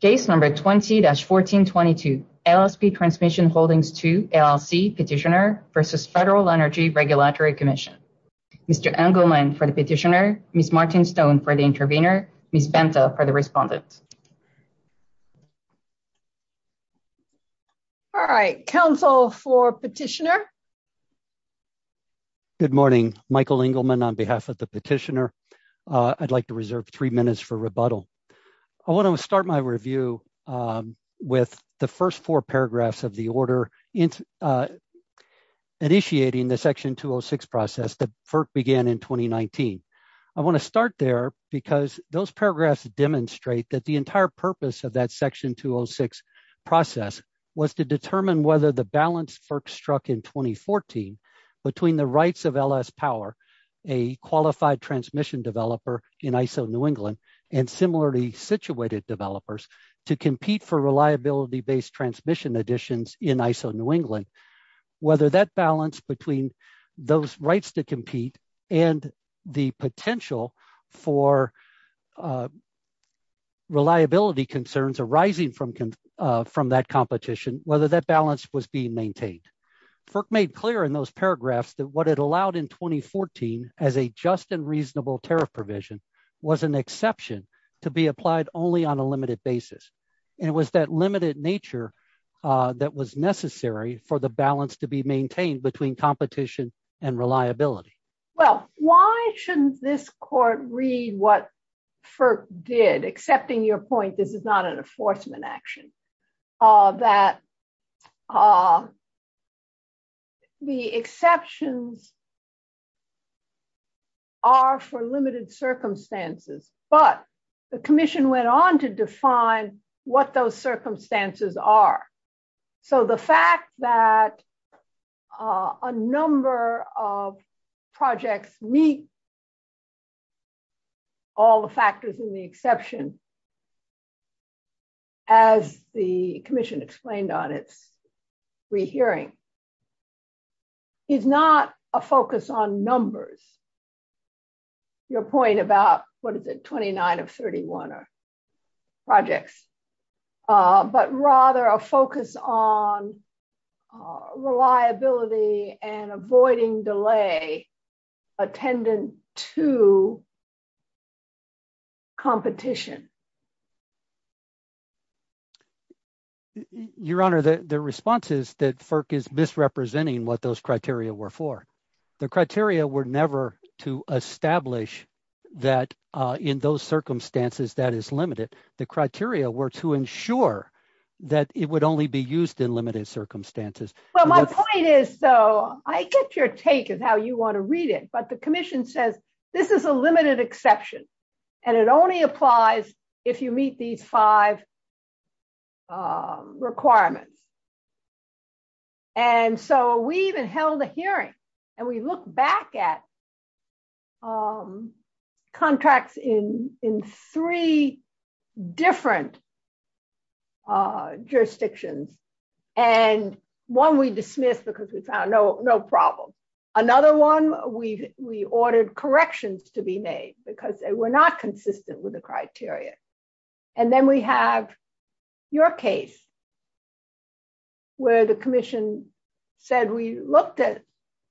Case number 20-1422, LSP Transmission Holdings II LLC Petitioner v. Federal Energy Regulatory Commission. Mr. Engelman for the petitioner, Ms. Martin-Stone for the intervener, Ms. Banta for the respondent. All right, counsel for petitioner. Good morning, Michael Engelman on behalf of the petitioner. I'd like to reserve three minutes for review with the first four paragraphs of the order initiating the Section 206 process that FERC began in 2019. I want to start there because those paragraphs demonstrate that the entire purpose of that Section 206 process was to determine whether the balance FERC struck in 2014 between the rights of LS Power, a qualified transmission developer in ISO New England, and similarly situated developers to compete for reliability-based transmission additions in ISO New England, whether that balance between those rights to compete and the potential for reliability concerns arising from that competition, whether that balance was being maintained. FERC made clear in those paragraphs that what it allowed in 2014 as a just and reasonable tariff provision was an exception to be applied only on a limited basis, and it was that limited nature that was necessary for the balance to be maintained between competition and reliability. Well, why shouldn't this court read what FERC did, accepting your point this is not an enforcement action, that the exceptions are for limited circumstances, but the commission went on to define what those circumstances are. So the fact that a number of projects meet all the factors in the exception, as the commission explained on its re-hearing, is not a focus on numbers, your point about what is it 29 of 31 or projects, but rather a focus on reliability and avoiding delay attendant to competition. Your Honor, the response is that FERC is misrepresenting what those criteria were for. The criteria were never to establish that in those circumstances that is limited. The criteria were to My point is, so I get your take on how you want to read it, but the commission says this is a limited exception and it only applies if you meet these five requirements. And so we even held a hearing and we look back at contracts in three different jurisdictions. And one we dismissed because we found no problem. Another one, we ordered corrections to be made because they were not consistent with the criteria. And then we have your case where the commission said, we looked at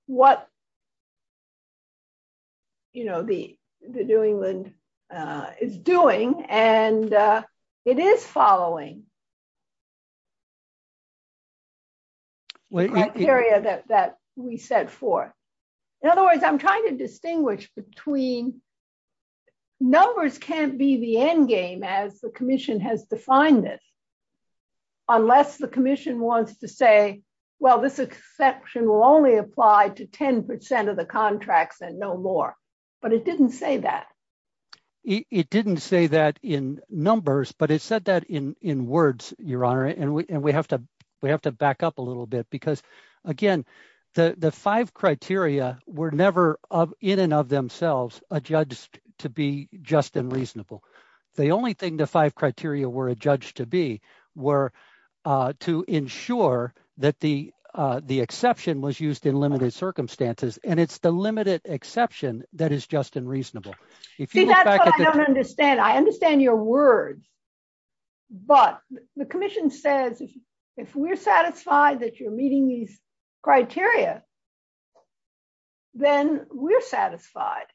what the New England is doing and it is following the criteria that we set forth. In other words, I'm trying to distinguish between numbers can't be the end game as the commission has defined it, unless the commission wants to say, well, this exception will only apply to 10% of the contracts and no more. But it didn't say that. It didn't say that in numbers, but it said that in words, Your Honor. And we have to back up a little bit because again, the five criteria were never in and of themselves adjudged to be just and reasonable. The only thing the five criteria were adjudged to be were to ensure that the exception was used in limited circumstances. And it's the limited exception that is just and reasonable. I don't understand. I understand your words, but the commission says, if we're satisfied that you're meeting these criteria, then we're satisfied.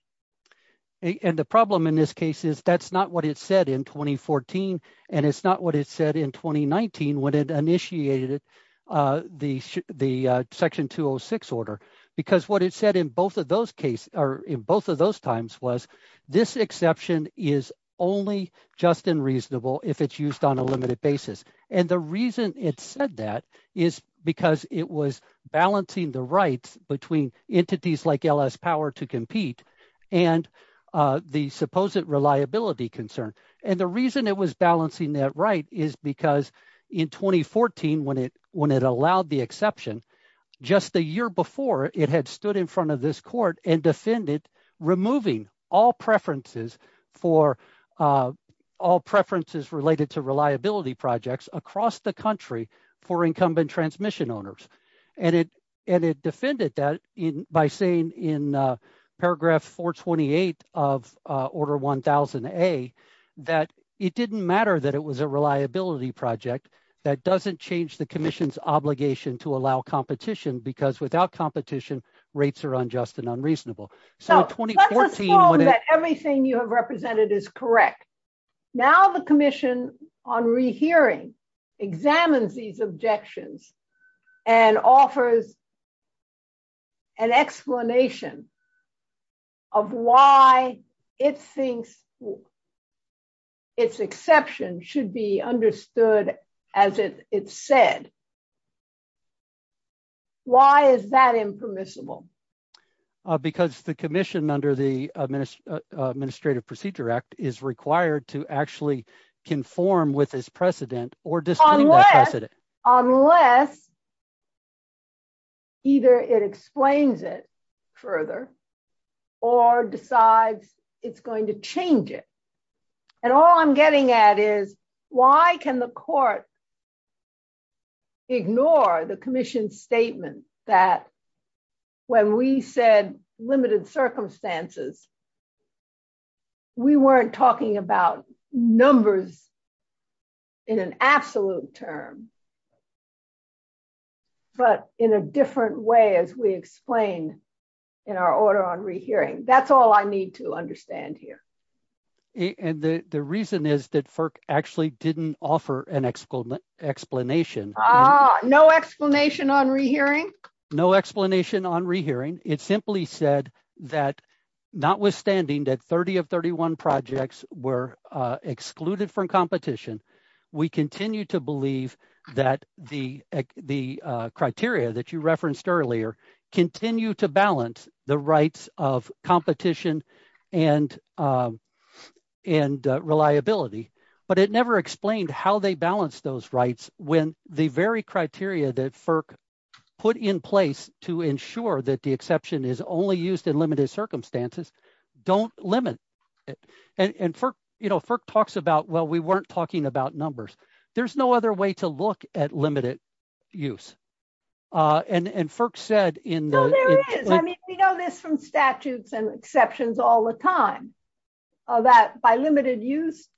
And the problem in this case is that's not what it said in 2014. And it's not what it said in 2019 when it initiated the section 206 order, because what it said in those cases or in both of those times was this exception is only just and reasonable if it's used on a limited basis. And the reason it said that is because it was balancing the rights between entities like LS Power to compete and the supposed reliability concern. And the reason it was balancing that right is because in 2014, when it allowed the exception, just the year before, it had stood in front of this court and defended removing all preferences for all preferences related to reliability projects across the country for incumbent transmission owners. And it defended that by saying in paragraph 428 of order 1000A that it didn't matter that it was a reliability project. That doesn't change the commission's obligation to allow competition because without competition, rates are unjust and unreasonable. So in 2014, when everything you have represented is correct, now the commission on rehearing examines these objections and offers an explanation of why it thinks its exception should be understood as it said. Why is that impermissible? Because the commission under the Administrative Procedure Act is required to actually conform with this precedent or unless either it explains it further or decides it's going to change it. And all I'm getting at is why can the court ignore the commission's statement that when we said limited circumstances, we weren't talking about numbers in an absolute term but in a different way as we explain in our order on rehearing. That's all I need to understand here. And the reason is that FERC actually didn't offer an explanation. No explanation on rehearing? No explanation on rehearing. It simply said that notwithstanding that 30 of 31 projects were excluded from competition, we continue to believe that the criteria that you referenced earlier continue to balance the rights of competition and reliability. But it never explained how they balance those rights when the very criteria that FERC put in place to ensure that the exception is only used in limited circumstances don't limit it. And FERC talks about, well, we weren't talking about numbers. There's no other way to look at limited use. No, there is. We know this from statutes and exceptions all the time, that by limited use,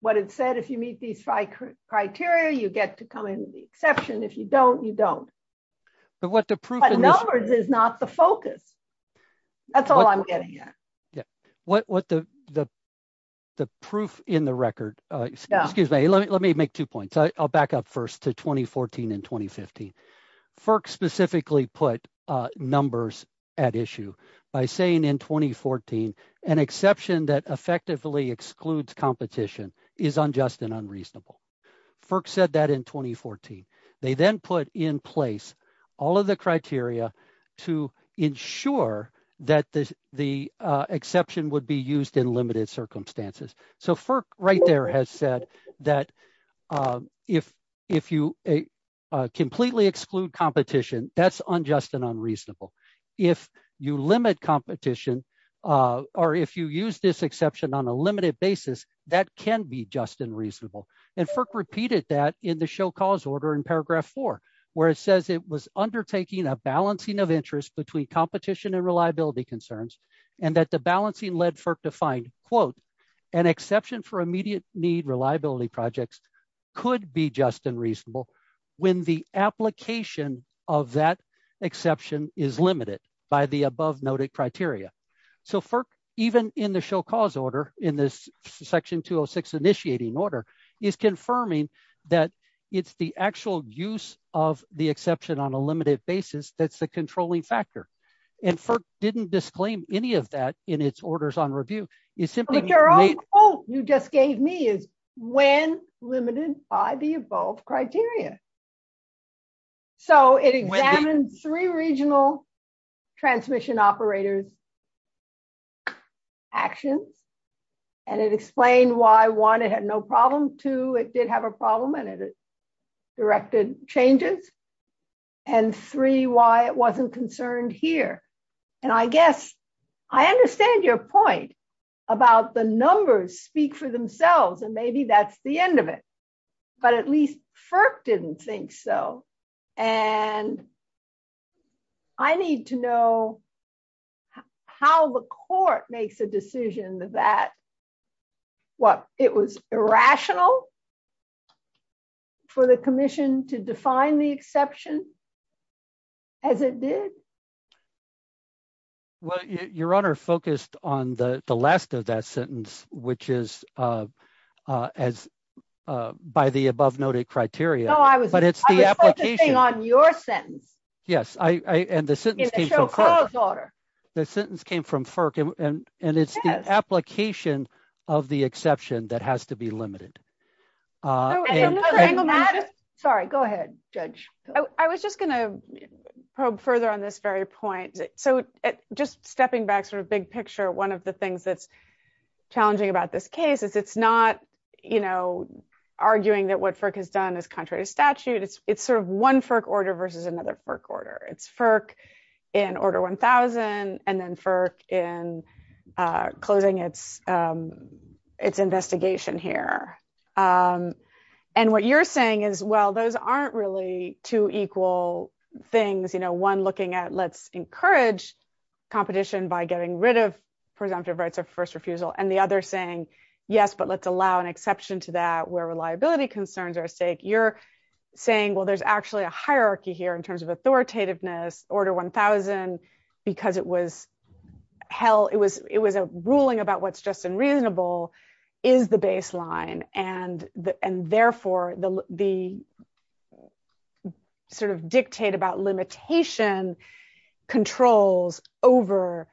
what it said, if you meet these five criteria, you get to come into the exception. If you don't, you don't. But numbers is not the focus. That's all I'm getting at. Yeah. The proof in the record, excuse me, let me make two points. I'll back up first to 2014 and 2015. FERC specifically put numbers at issue by saying in 2014, an exception that effectively excludes competition is unjust and unreasonable. FERC said that in 2014. They then put in place all of the criteria to ensure that the exception would be used in limited circumstances. So FERC right there has said that if you completely exclude competition, that's unjust and unreasonable. If you limit competition, or if you use this exception on a limited basis, that can be just and reasonable. And FERC repeated that in the show cause order in paragraph four, where it says it was undertaking a balancing of interest between competition and reliability concerns, and that the balancing led FERC to find, quote, an exception for immediate need reliability projects could be just and reasonable when the application of that exception is limited by the above noted criteria. So FERC, even in the show cause order, in this section 206 initiating order, is confirming that it's the actual use of the exception on a limited basis that's the any of that in its orders on review. Your own quote you just gave me is when limited by the above criteria. So it examines three regional transmission operators actions, and it explained why one, it had no problem, two, it did have a problem, and it directed changes, and three, why it wasn't concerned here. And I guess I understand your point about the numbers speak for themselves, and maybe that's the end of it. But at least FERC didn't think so. And I need to know how the court makes a decision that, what, it was irrational for the commission to define the exception as it did? Well your honor focused on the last of that sentence, which is as by the above noted criteria. No, I was focusing on your sentence. Yes, and the sentence came from FERC. The sentence came from FERC, and it's the application of the exception that has to be limited. Sorry, go ahead judge. I was just going to probe further on this very point. So just stepping back sort of big picture, one of the things that's challenging about this case is it's not, you know, arguing that what FERC has done is contrary to statute. It's sort of one FERC order versus another FERC order. It's FERC in order 1000, and then FERC in closing its investigation here. And what you're saying is, well, those aren't really two equal things. You know, one looking at, let's encourage competition by getting rid of presumptive rights of first refusal, and the other saying, yes, but let's allow an exception to that where reliability concerns are at stake. You're saying, well, there's actually a hierarchy here in terms of authoritativeness, order 1000, because it was a ruling about what's just and reasonable is the baseline. And therefore, the sort of dictate about limitation controls over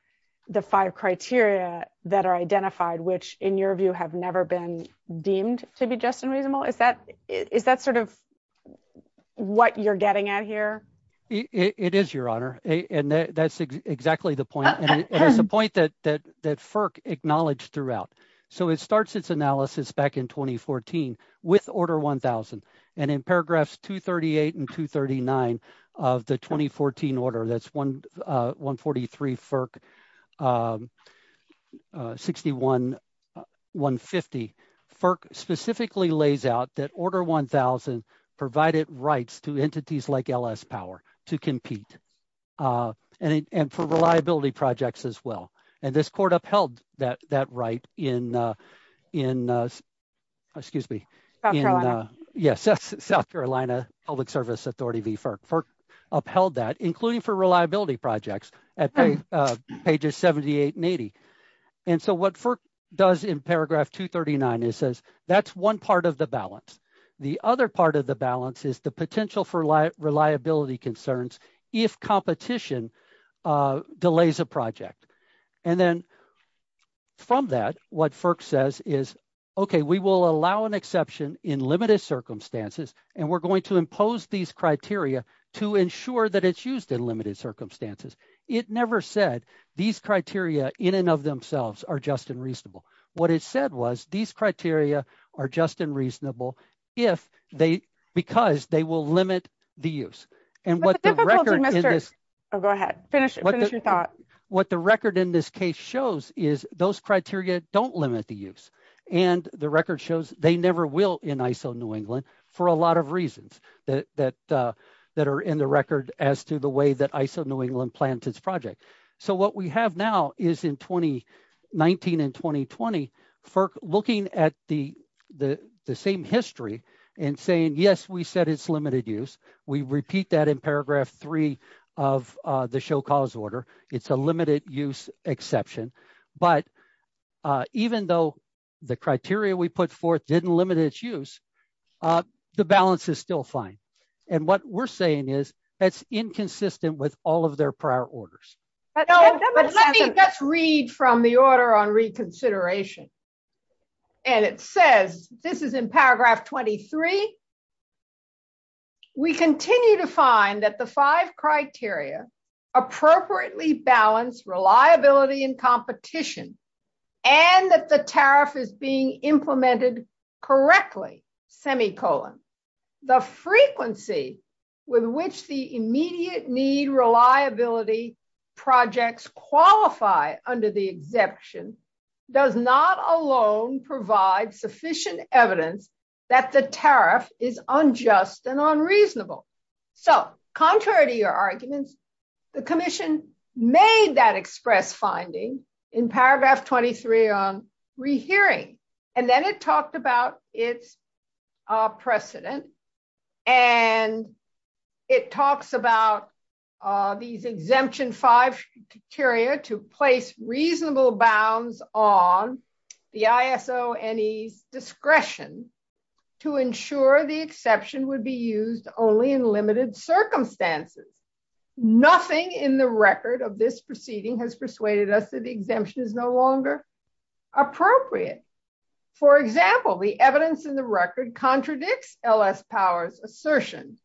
the five criteria that are identified, which in your view have never been deemed to be just and reasonable. Is that sort of what you're getting at here? It is, Your Honor. And that's exactly the point. And it's the point that FERC acknowledged throughout. So it starts its analysis back in 2014 with order 1000. And in paragraphs 238 and 239 of the 2014 order, that's 143 FERC, 61150, FERC specifically lays out that order 1000 provided rights to entities like LS Power to compete and for reliability projects as well. And this court upheld that right in, excuse me, South Carolina Public Service Authority v. FERC. FERC upheld that, including for reliability projects at pages 78 and 80. And so what FERC does in paragraph 239, it says that's one part of the balance. The other part of the balance is the potential for reliability concerns if competition delays a project. And then from that, what FERC says is, OK, we will allow an exception in limited circumstances, and we're going to impose these criteria to ensure that it's used in limited circumstances. It never said these criteria in and of themselves are just unreasonable. What it said was these criteria are just unreasonable because they will limit the use. And what the record in this case shows is those criteria don't limit the use. And the record shows they never will in ISO New England for a lot of reasons. That are in the record as to the way that ISO New England plans its project. So what we have now is in 2019 and 2020, FERC looking at the same history and saying, yes, we said it's limited use. We repeat that in paragraph three of the show cause order. It's a limited use exception. But even though the criteria we put forth didn't limit its use, the balance is still fine. And what we're saying is that's inconsistent with all of their prior orders. But let me just read from the order on reconsideration. And it says this is in paragraph 23. We continue to find that the five criteria appropriately balance reliability and competition and that the tariff is being implemented correctly, semicolon. The frequency with which the immediate need reliability projects qualify under the exception does not alone provide sufficient evidence that the tariff is unjust and unreasonable. So contrary to your arguments, the commission made that express finding in paragraph 23 on rehearing. And then it talked about its precedent. And it talks about these exemption five criteria to place reasonable bounds on the ISO NE's discretion to ensure the exception would be used only in limited circumstances. Nothing in the record of this proceeding has persuaded us that the exemption is no longer appropriate. For example, the evidence in the record contradicts LS powers assertion.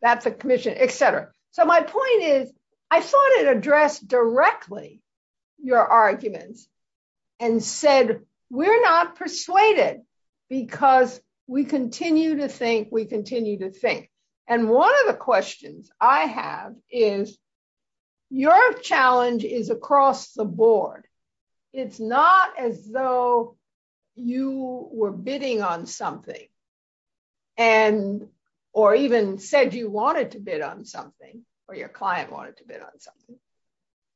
That's a commission, et cetera. So my point is, I thought it addressed directly your arguments and said, we're not persuaded because we continue to think we continue to think. And one of the questions I have is your challenge is across the board. It's not as though you were bidding on something and or even said you wanted to bid on something or your client wanted to bid on something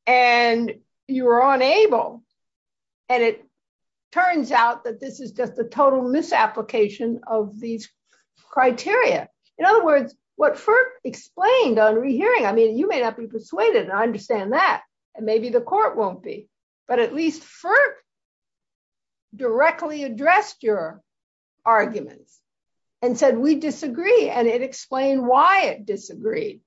and you were unable. And it turns out that this is just a total misapplication of these criteria. In other words, what FERC explained on rehearing, I mean, you may not be persuaded and I understand that and maybe the court won't be, but at least FERC directly addressed your arguments and said, we disagree. And it explained why it disagreed.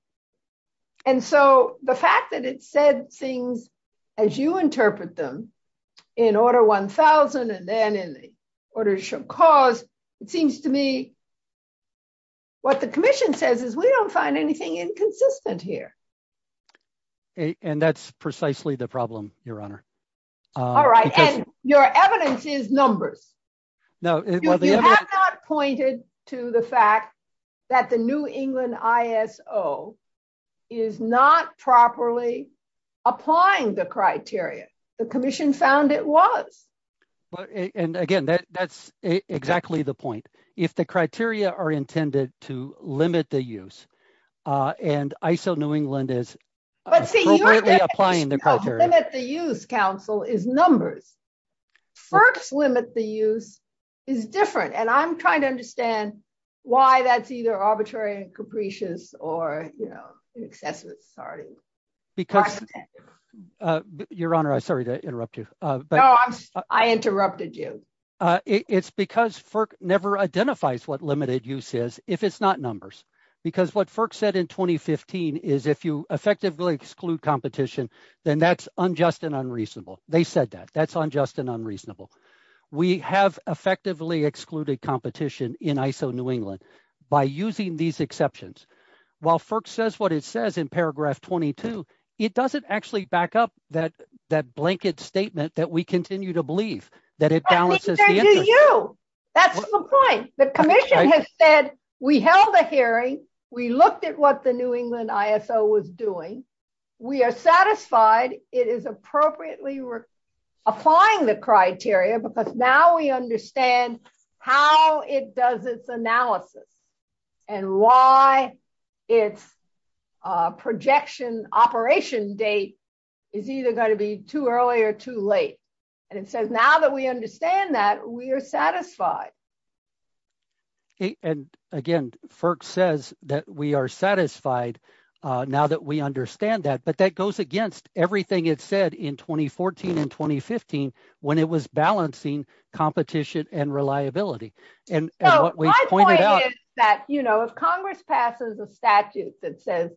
And so the fact that it said things as you interpret them in order 1000, and then in order to show cause, it seems to me what the commission says is we don't find anything inconsistent here. And that's precisely the problem, your honor. All right. And your evidence is numbers. No, pointed to the fact that the new England ISO is not properly applying the criteria. The commission found it was. And again, that's exactly the point. If the criteria are intended to limit the use and ISO New England is appropriately applying the criteria. Limit the use, counsel, is numbers. FERC's limit the use is different. And I'm trying to understand why that's either arbitrary and capricious or, you know, excessive, sorry. Because your honor, I'm sorry to interrupt you, but I interrupted you. It's because FERC never identifies what limited use is if it's not numbers, because what FERC said in 2015 is if you effectively exclude competition, then that's unjust and unreasonable. They said that that's unjust and unreasonable. We have effectively excluded competition in ISO New England by using these exceptions. While FERC says what it says in paragraph 22, it doesn't actually back up that, that blanket statement that we continue to believe that it balances. That's the point. The commission has said, we held a hearing. We looked at what the New England ISO was doing. We are satisfied it is appropriately applying the criteria, because now we understand how it does its analysis and why its projection operation date is either going to be too early or too late. And it says, now that we understand that, we are satisfied. And again, FERC says that we are satisfied now that we understand that. But that goes against everything it said in 2014 and 2015 when it was balancing competition and reliability. My point is that if Congress passes a statute that says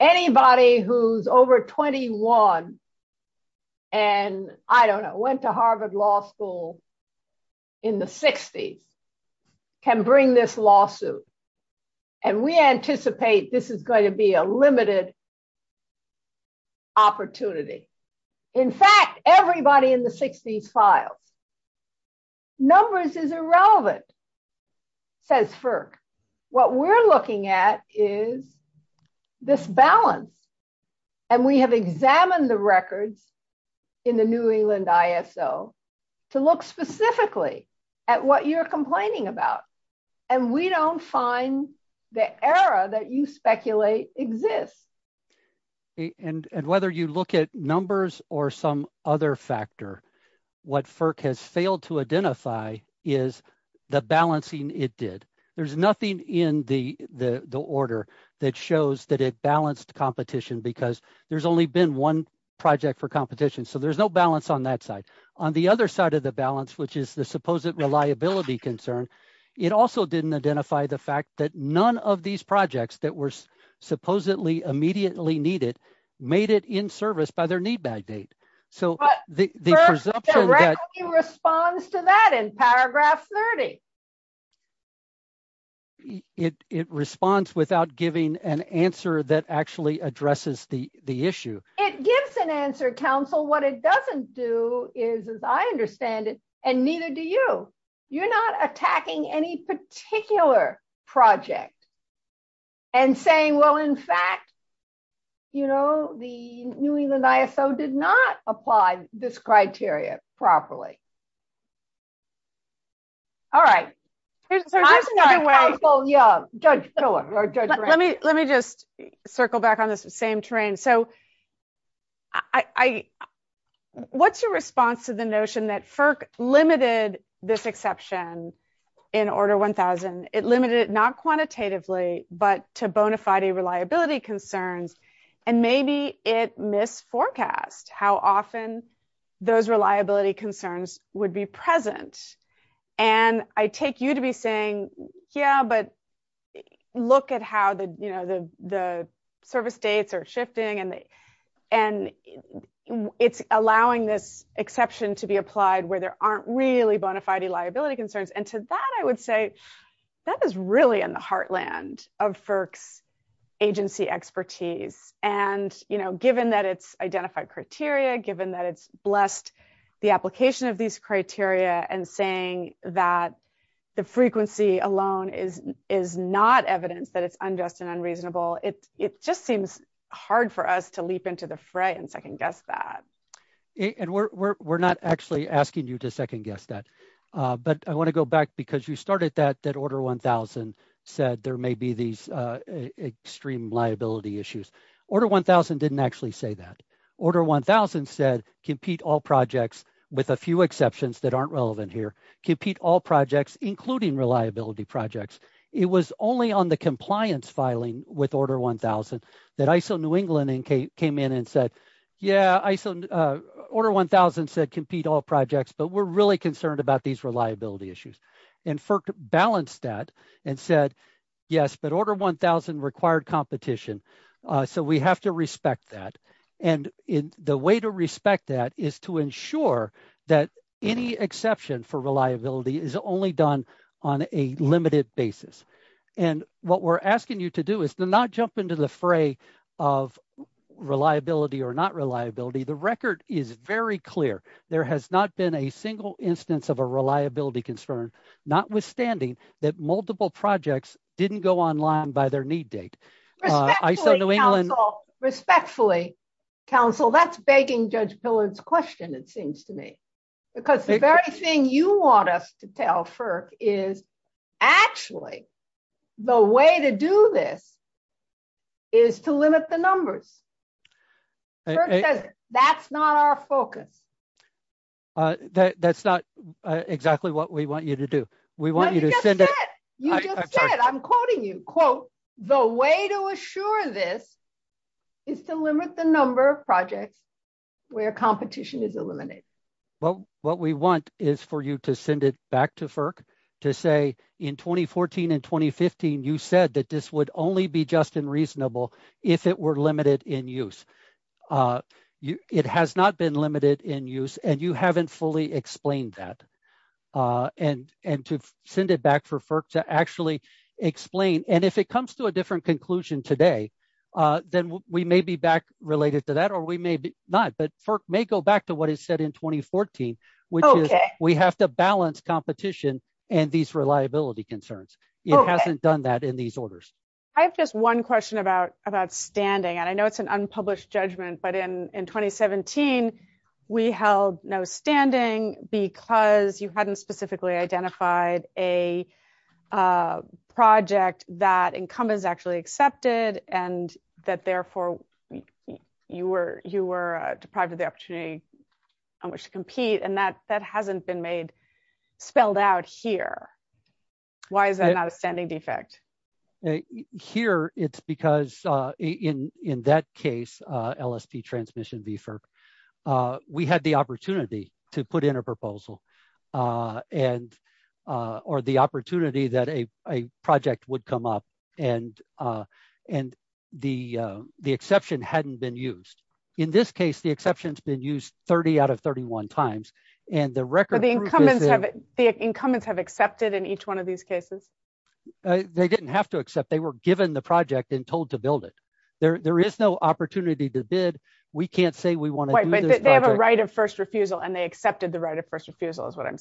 anybody who's over 21 and I don't know, went to Harvard Law School in the 60s can bring this lawsuit. And we anticipate this is going to be a limited opportunity. In fact, everybody in the 60s files. Numbers is irrelevant, says FERC. What we're looking at is this balance. And we have examined the records in the New England ISO to look specifically at what you're complaining about. And we don't find the error that you speculate exists. And whether you look at numbers or some other factor, what FERC has failed to identify is the balancing it did. There's nothing in the order that shows that it balanced competition, because there's only been one project for competition. So there's no balance on that side. On the other side of the balance, which is the supposed reliability concern, it also didn't identify the fact that none of these projects that were supposedly immediately needed made it in service by their need bag date. So the presumption that- FERC directly responds to that in paragraph 30. It responds without giving an answer that actually addresses the issue. It gives an answer, counsel. What it doesn't do is, as I understand it, and neither do you. You're not attacking any particular project and saying, well, in fact, the New England ISO did not apply this criteria properly. All right. Let me just circle back on this same train. So what's your response to the notion that FERC limited this exception in order 1000? It limited it not quantitatively, but to bona fide reliability concerns. And maybe it misforecast how often those reliability concerns would be present. And I take you to be saying, yeah, but look at how the service dates are shifting and it's allowing this exception to be applied where there aren't really bona fide reliability concerns. And to that, I would say that is really in the heartland of FERC's agency expertise. And given that it's identified criteria, given that it's blessed the application of these criteria and saying that the frequency alone is not evidence that it's unjust and unreasonable, it just seems hard for us to leap into the fray and second guess that. And we're not actually asking you to second guess that. But I want to go back because you started that that order 1000 said there may be these extreme liability issues. Order 1000 didn't actually say that. Order 1000 said compete all projects with a few exceptions that aren't relevant here. Compete all projects, including reliability projects. It was only on the compliance filing with order 1000 that ISO New England came in and said, yeah, order 1000 said compete all projects, but we're really concerned about these reliability issues. And FERC balanced that and said, yes, but order 1000 required competition. So we have to respect that. And the way to respect that is to ensure that any exception for reliability is only done on a limited basis. And what we're asking you to do is to not jump into the fray of reliability or not reliability. The record is very clear. There has not been a single instance of a reliability concern, notwithstanding that multiple projects didn't go online by their need date. Respectfully, counsel, that's begging Judge Pillard's question, it seems to me. Because the very thing you want us to tell FERC is, actually, the way to do this is to limit the numbers. That's not our focus. That's not exactly what we want you to do. We want you to send it. You just said, I'm quoting you, quote, the way to assure this is to limit the number of projects where competition is eliminated. Well, what we want is for you to send it back to FERC to say, in 2014 and 2015, you said that this would only be just and reasonable if it were limited in use. It has not been limited in use, and you haven't fully explained that. And to send it back for FERC to actually explain. And if it comes to a different conclusion today, then we may be back to what is said in 2014, which is we have to balance competition and these reliability concerns. It hasn't done that in these orders. I have just one question about standing. And I know it's an unpublished judgment, but in 2017, we held no standing because you hadn't specifically identified a project that incumbents actually accepted and that therefore you were deprived of the opportunity on which to compete. And that hasn't been spelled out here. Why is that not a standing defect? Here, it's because in that case, LST transmission VFIRP, we had the opportunity to put in a proposal or the opportunity that a project would come up and the exception hadn't been used. In this case, the exception has been used 30 out of 31 times. The incumbents have accepted in each one of these cases? They didn't have to accept. They were given the project and told to build it. There is no opportunity to bid. We can't say we want to do this project. They have a right of first refusal and they accepted the right of first refusal is what I'm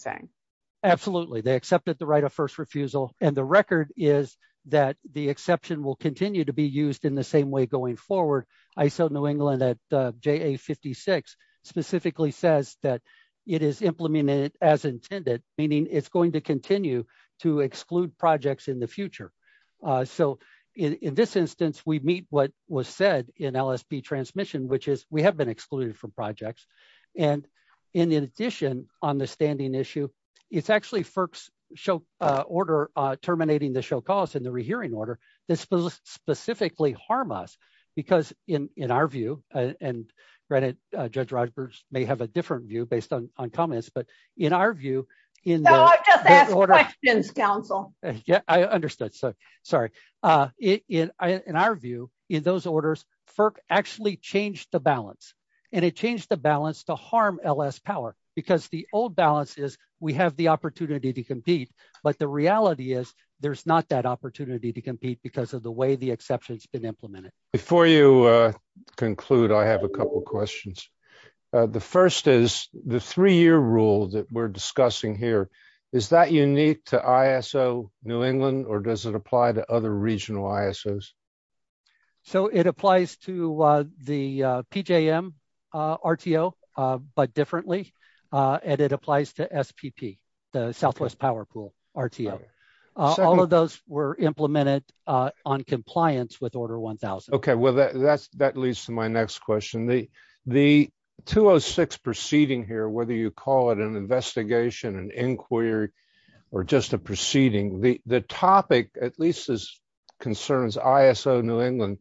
Absolutely. They accepted the right of first refusal. And the record is that the exception will continue to be used in the same way going forward. ISO New England at JA56 specifically says that it is implemented as intended, meaning it's going to continue to exclude projects in the future. So in this instance, we meet what was said in LST transmission, which is we have been issue. It's actually FERC's order terminating the show cause in the rehearing order. This specifically harm us because in our view, and granted, Judge Rogers may have a different view based on comments, but in our view, in the order, I understood. Sorry. In our view, in those orders, FERC actually changed the balance and it changed the balance to harm LS power because the old balance is we have the opportunity to compete. But the reality is there's not that opportunity to compete because of the way the exception has been implemented. Before you conclude, I have a couple of questions. The first is the three-year rule that we're discussing here. Is that unique to ISO New England or does it apply to other regional ISOs? So it applies to the PJM RTO, but differently, and it applies to SPP, the Southwest Power Pool RTO. All of those were implemented on compliance with order 1000. Okay. Well, that leads to my next question. The 206 proceeding here, whether you call it an investigation, an inquiry, or just a proceeding, the topic, at least as concerns ISO New England,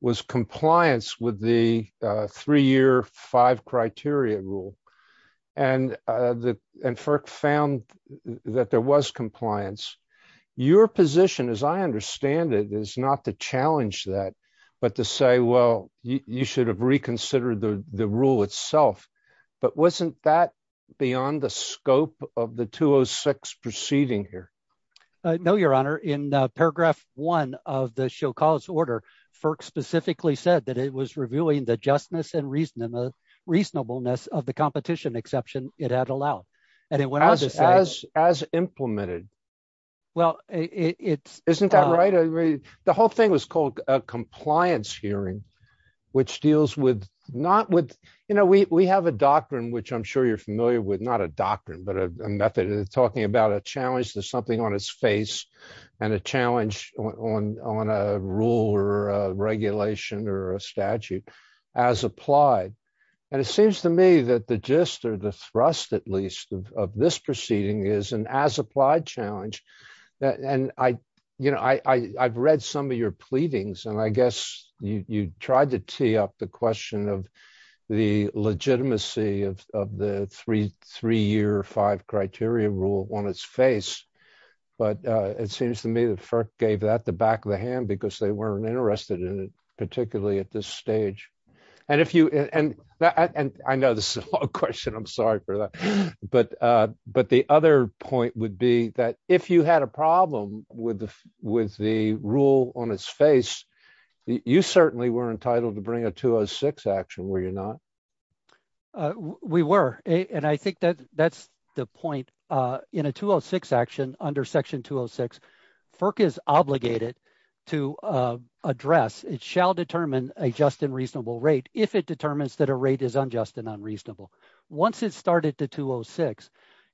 was compliance with the three-year five criteria rule. And FERC found that there was compliance. Your position, as I understand it, is not to challenge that, but to say, well, you should have reconsidered the rule itself. But wasn't that beyond the scope of the 206 proceeding here? No, your honor. In paragraph one of the show cause order, FERC specifically said that it was reviewing the justness and reasonableness of the competition exception it had allowed. And it went on to say- As implemented. Well, it's- Isn't that right? The whole thing was called a compliance hearing, which deals with not with, we have a doctrine, which I'm sure you're familiar with, not a doctrine, but a method of talking about a challenge to something on its face and a challenge on a rule or a regulation or a statute as applied. And it seems to me that the gist or the thrust, at least, of this proceeding is an as applied challenge. And I've read some of your pleadings, and I guess you tried to tee up the question of the legitimacy of the three-year five criteria rule on its face. But it seems to me that FERC gave that the back of the hand because they weren't interested in it, particularly at this stage. And if you- And I know this is a long question, I'm sorry for that. But the other point would be that if you had a problem with the rule on its face, you certainly were entitled to bring a 206 action, were you not? We were. And I think that's the point. In a 206 action, under section 206, FERC is obligated to address, it shall determine a just and reasonable rate if it determines that a rate is unjust and unreasonable. Once it started the 206,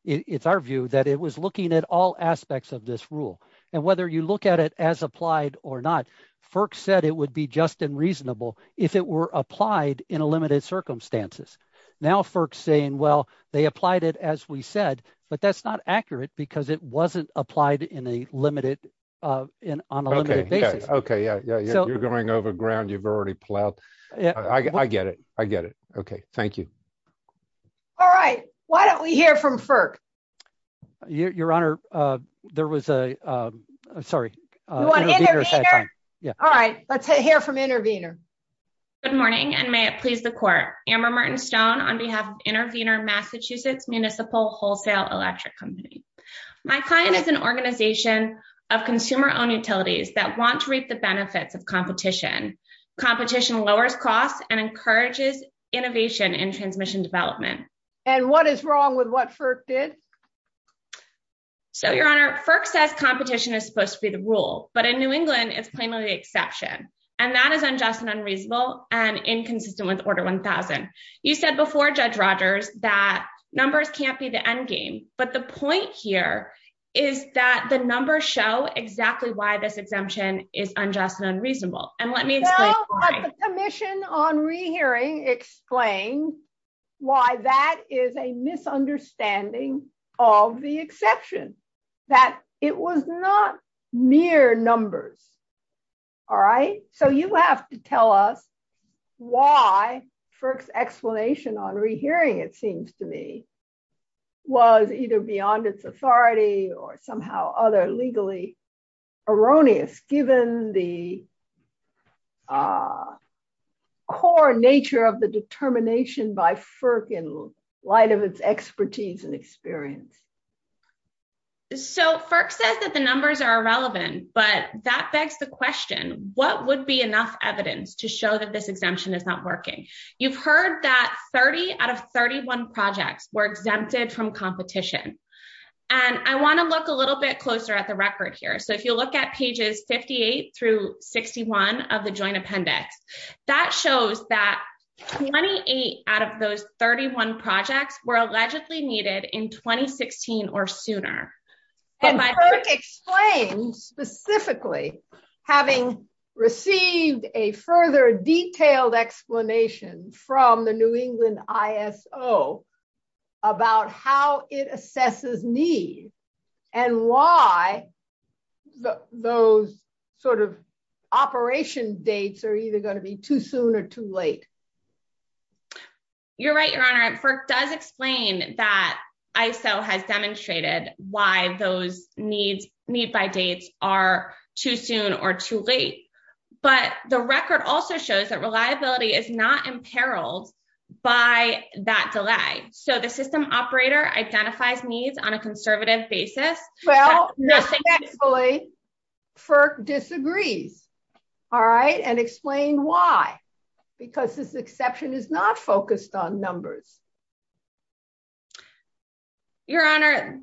it's our view that it was looking at all aspects of this rule. And whether you look at it as applied or not, FERC said it would be just and reasonable if it applied in a limited circumstances. Now, FERC's saying, well, they applied it as we said, but that's not accurate because it wasn't applied on a limited basis. Okay. Yeah. You're going over ground. You've already plowed. I get it. I get it. Okay. Thank you. All right. Why don't we hear from FERC? Your Honor, there was a- I'm sorry. You want intervener? All right. Let's hear from intervener. Good morning, and may it please the court. Amber Martin Stone on behalf of Intervener Massachusetts Municipal Wholesale Electric Company. My client is an organization of consumer-owned utilities that want to reap the benefits of competition. Competition lowers costs and encourages innovation in transmission development. And what is wrong with what FERC did? So, Your Honor, FERC says competition is supposed to be the rule, but in New England, it's plainly the exception. And that is unjust and unreasonable and inconsistent with Order 1000. You said before, Judge Rogers, that numbers can't be the endgame. But the point here is that the numbers show exactly why this exemption is unjust and unreasonable. And let me- No, but the Commission on Rehearing explained why that is a misunderstanding of the exception, that it was not mere numbers. All right? So, you have to tell us why FERC's explanation on rehearing, it seems to me, was either beyond its authority or somehow other legally erroneous, given the core nature of the determination by FERC in light of its expertise and experience. So, FERC says that the numbers are irrelevant, but that begs the question, what would be enough evidence to show that this exemption is not working? You've heard that 30 out of 31 projects were exempted from competition. And I want to look a little bit closer at the record here. So, if you look at pages 58 through 61 of the Joint Appendix, that shows that 28 out of those 31 projects were allegedly needed in 2016 or sooner. And FERC explained specifically, having received a further detailed explanation from the New England ISO about how it assesses need and why those sort of operation dates are either going to be too soon or too late. You're right, Your Honor. FERC does explain that ISO has demonstrated why those need by dates are too soon or too late. But the record also shows that reliability is not imperiled by that delay. So, the system operator identifies needs on a conservative basis. Well, actually, FERC disagrees. All right. And explain why, because this exception is not focused on numbers. Your Honor,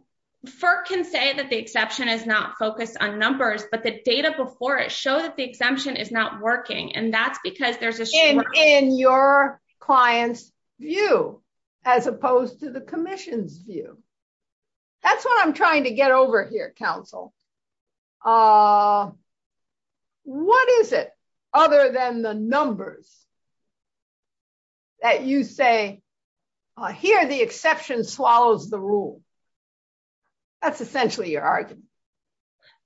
FERC can say that the exception is not focused on numbers, but the data before it show that the exemption is not working. And that's because there's a- In your client's view, as opposed to the Commission's view. That's what I'm trying to get over here, counsel. What is it, other than the numbers, that you say, here the exception swallows the rule? That's essentially your argument.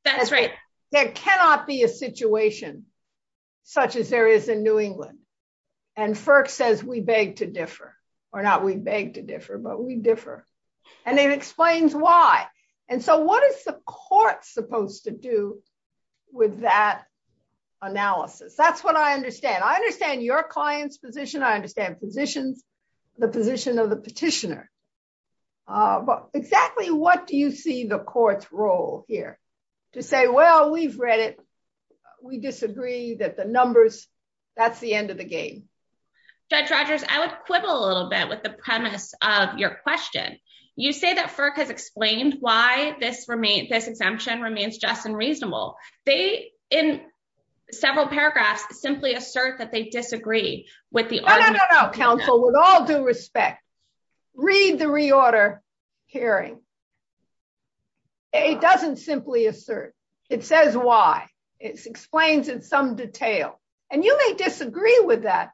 That's right. There cannot be a situation such as there is in New England. And FERC says we beg to differ. And it explains why. And so, what is the court supposed to do with that analysis? That's what I understand. I understand your client's position. I understand the position of the petitioner. But exactly what do you see the court's role here? To say, well, we've read it. We disagree that the numbers, that's the end of the game. Judge Rogers, I would quibble a little bit with the premise of your question. You say that FERC has explained why this exemption remains just and reasonable. They, in several paragraphs, simply assert that they disagree with the- No, no, no, no, counsel. With all due respect, read the reorder hearing. It doesn't simply assert. It says why. It explains in some detail. And you may disagree with that.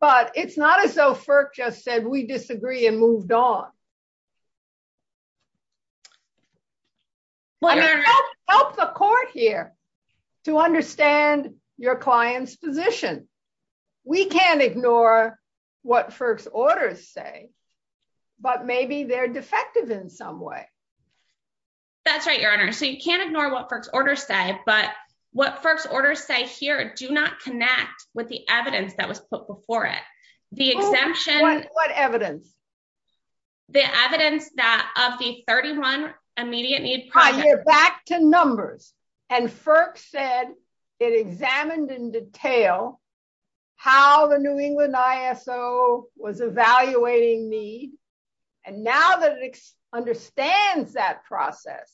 But it's not as though FERC just said we disagree and moved on. Help the court here to understand your client's position. We can't ignore what FERC's orders say. But maybe they're defective in some way. That's right, Your Honor. So you can't ignore what FERC's orders say. But what FERC's orders say here do not connect with the evidence that was put before it. The exemption- What evidence? The evidence that of the 31 immediate need projects- Back to numbers. And FERC said it examined in detail how the New England ISO was evaluating need. And now that it understands that process,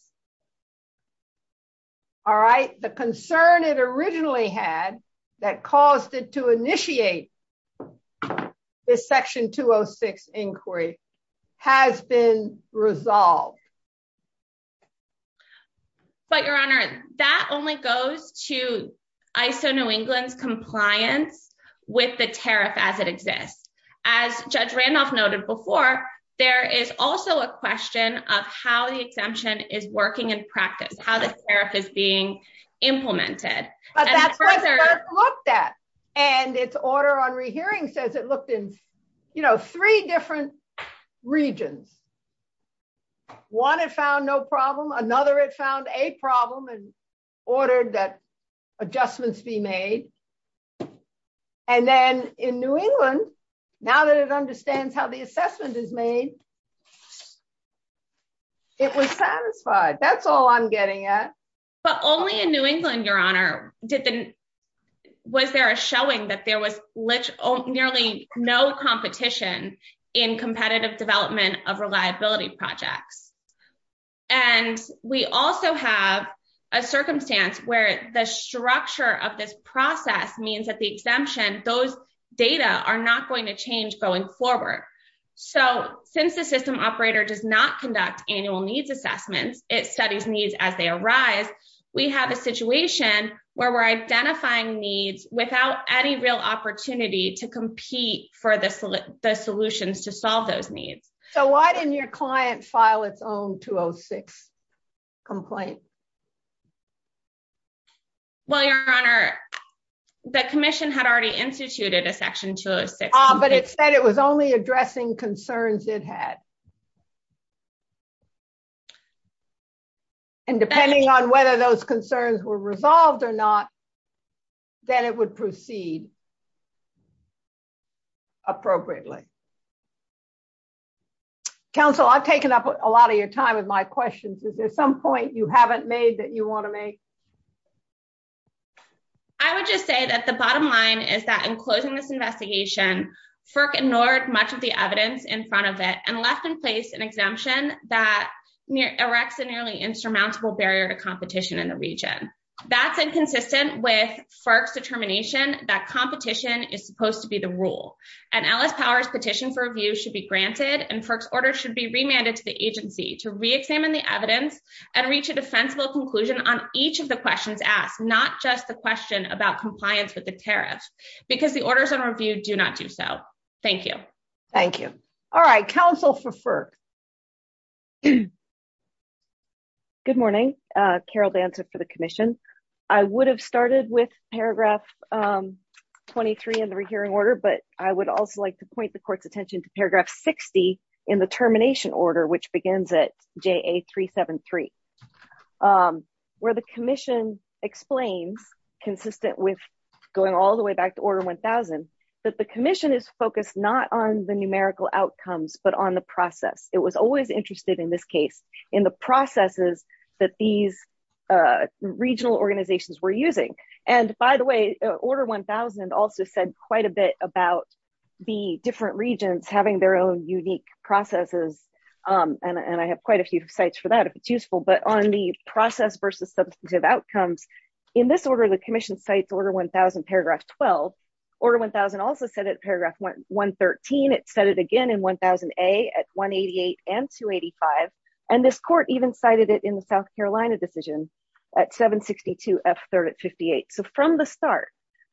all right, the concern it originally had that caused it to initiate this Section 206 inquiry has been resolved. But, Your Honor, that only goes to ISO New England's compliance with the tariff as it exists. As Judge Randolph noted before, there is also a question of how the exemption is working in practice, how the tariff is being implemented. And further- Looked at. And its order on rehearing says it looked in three different regions. One, it found no problem. Another, it found a problem and ordered that adjustments be made. And then in New England, now that it understands how the assessment is made, it was satisfied. That's all I'm getting at. But only in New England, Your Honor, was there a showing that there was nearly no competition in competitive development of reliability projects. And we also have a circumstance where the structure of this process means that the exemption, those data are not going to change going forward. So, since the system operator does not conduct annual needs assessments, it studies needs as they arise, we have a situation where we're identifying needs without any real opportunity to compete for the solutions to solve those needs. So, why didn't your client file its own 206 complaint? Well, Your Honor, the Commission had already instituted a Section 206- But it said it was only addressing concerns it had. And depending on whether those concerns were resolved or not, then it would proceed appropriately. Counsel, I've taken up a lot of your time with my questions. Is there some point you haven't made that you want to make? I would just say that the bottom line is that in closing this investigation, FERC ignored much of the evidence in front of it and left in place an exemption that erects a nearly insurmountable barrier to competition in the region. That's inconsistent with FERC's determination that competition is supposed to be the rule. And Ellis Power's petition for review should be granted, and FERC's order should be remanded to the agency to re-examine the evidence and reach a defensible conclusion on each of the orders on review do not do so. Thank you. Thank you. All right. Counsel for FERC. Good morning. Carol Danza for the Commission. I would have started with paragraph 23 in the rehearing order, but I would also like to point the Court's attention to paragraph 60 in the termination order, which begins at JA-373, where the Commission explains, consistent with going all the way back to Order 1000, that the Commission is focused not on the numerical outcomes, but on the process. It was always interested, in this case, in the processes that these regional organizations were using. And by the way, Order 1000 also said quite a bit about the different regions having their own unique processes, and I have quite a few sites for that if it's useful. But on the process versus substantive outcomes, in this order, the Commission cites Order 1000, paragraph 12. Order 1000 also said it in paragraph 113. It said it again in 1000A at 188 and 285. And this Court even cited it in the South Carolina decision at 762 F-38. So from the start,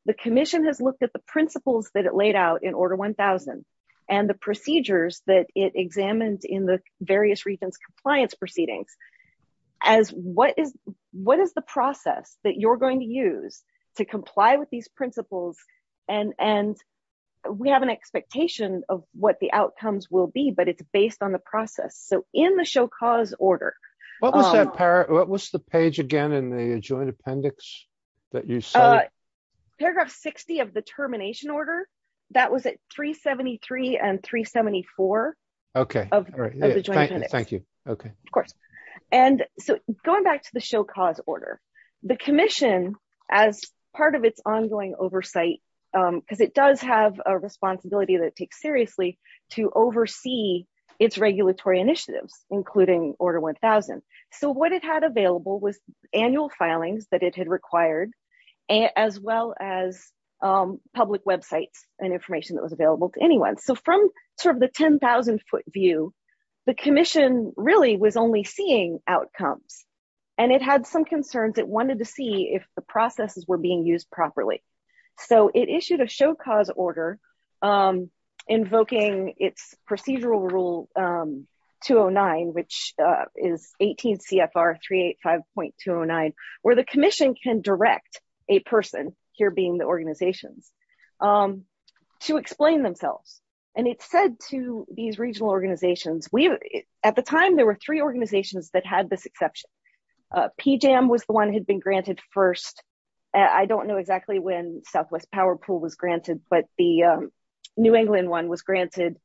the Commission has looked at the principles that it laid out in Order 1000, and the procedures that it examined in the various regions' compliance proceedings, as what is the process that you're going to use to comply with these principles? And we have an expectation of what the outcomes will be, but it's based on the process. So in the show cause order... What was the page again in the joint appendix that you cited? Paragraph 60 of the termination order. That was at 373 and 374 of the joint appendix. Thank you. Of course. And so going back to the show cause order, the Commission, as part of its ongoing oversight, because it does have a responsibility that it takes seriously to oversee its regulatory initiatives, including Order 1000. So what it had available was as well as public websites and information that was available to anyone. So from the 10,000-foot view, the Commission really was only seeing outcomes. And it had some concerns. It wanted to see if the processes were being used properly. So it issued a show cause order invoking its procedural rule 209, which is 18 CFR 385.209, where the Commission can direct a person, here being the organizations, to explain themselves. And it said to these regional organizations... At the time, there were three organizations that had this exception. PJAM was the one that had been granted first. I don't know exactly when Southwest Power Pool was granted, but the New England one was granted,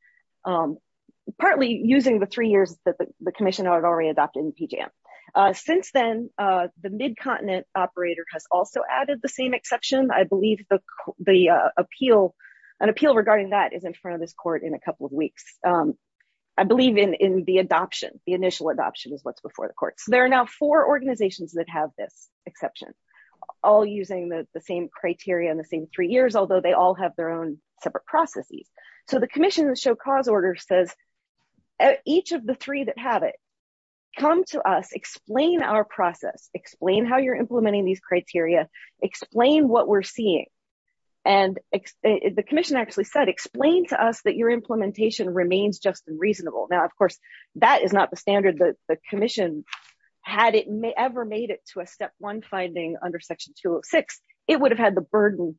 partly using the three years that the Commission already adopted in PJAM. Since then, the Mid-Continent Operator has also added the same exception. I believe an appeal regarding that is in front of this court in a couple of weeks. I believe in the adoption. The initial adoption is what's before the court. So there are now four organizations that have this exception, all using the same criteria and the same three years, although they all have their own separate processes. So the Commission's show cause order says each of the three that have it, come to us, explain our process, explain how you're implementing these criteria, explain what we're seeing. And the Commission actually said, explain to us that your implementation remains just and reasonable. Now, of course, that is not the standard that the Commission... Had it ever made it to a step one finding under section 206, it would have had the burden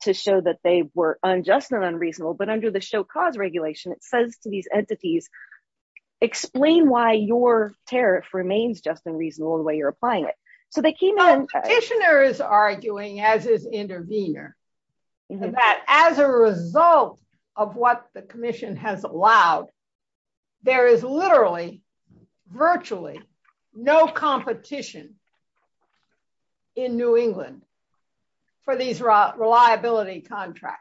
to show that they were unjust and unreasonable. But under the show cause regulation, it says to these entities, explain why your tariff remains just and reasonable the way you're applying it. So they came in... The petitioner is arguing, as is intervener, that as a result of what the Commission has allowed, there is literally, virtually no competition in New England for these reliability contracts.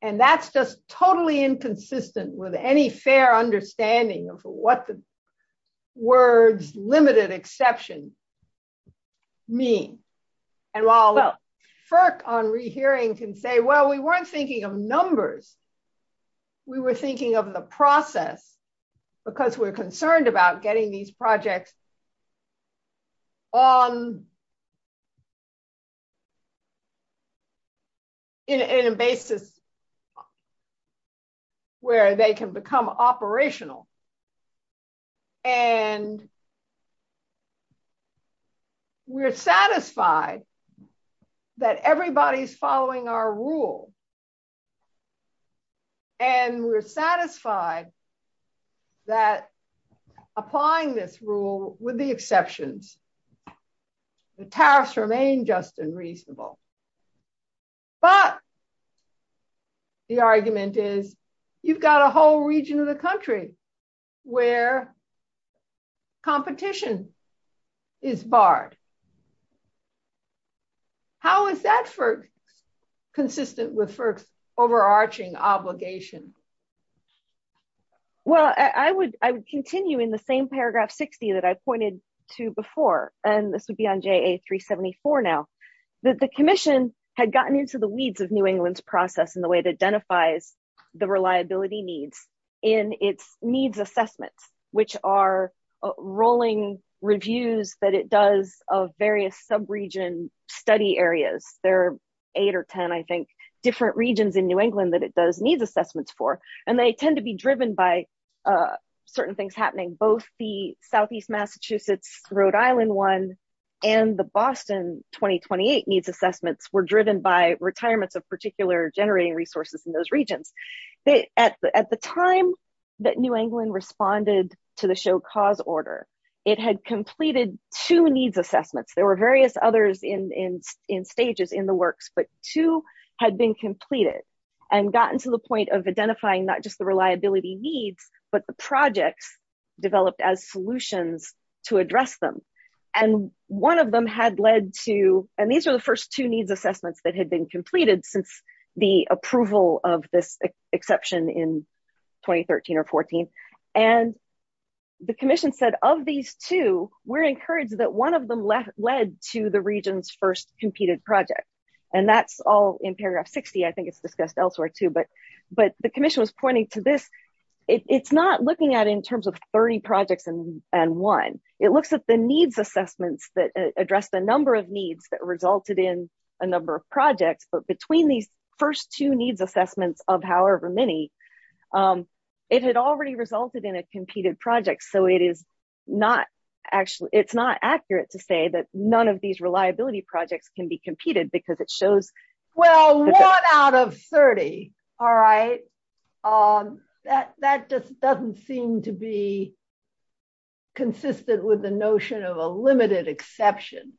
And that's just totally inconsistent with any fair understanding of what the words limited exception mean. And while FERC on rehearing can say, well, we weren't thinking of numbers. We were thinking of the process because we're concerned about getting these projects in a basis where they can become operational. And we're satisfied that everybody's following our rule. And we're satisfied that applying this rule with the exceptions, the tariffs remain just and reasonable. But the argument is you've got a whole region of the FERC overarching obligation. Well, I would continue in the same paragraph 60 that I pointed to before, and this would be on JA 374 now, that the Commission had gotten into the weeds of New England's process and the way it identifies the reliability needs in its needs assessments, which are rolling reviews that it that it does needs assessments for. And they tend to be driven by certain things happening, both the Southeast Massachusetts, Rhode Island one, and the Boston 2028 needs assessments were driven by retirements of particular generating resources in those regions. At the time that New England responded to the show cause order, it had completed two needs assessments. There were others in stages in the works, but two had been completed and gotten to the point of identifying not just the reliability needs, but the projects developed as solutions to address them. And one of them had led to, and these are the first two needs assessments that had been completed since the approval of this exception in 2013 or 14. And the Commission said of these two, we're encouraged that one of them led to the region's first competed project. And that's all in paragraph 60. I think it's discussed elsewhere too, but the Commission was pointing to this. It's not looking at in terms of 30 projects and one, it looks at the needs assessments that address the number of needs that resulted in a number of projects, but between these first two needs assessments of however many, it had already resulted in a competed project. So it is not actually, it's not accurate to say that none of these reliability projects can be competed because it shows. Well, one out of 30. All right. That just doesn't seem to be consistent with the notion of a limited exception.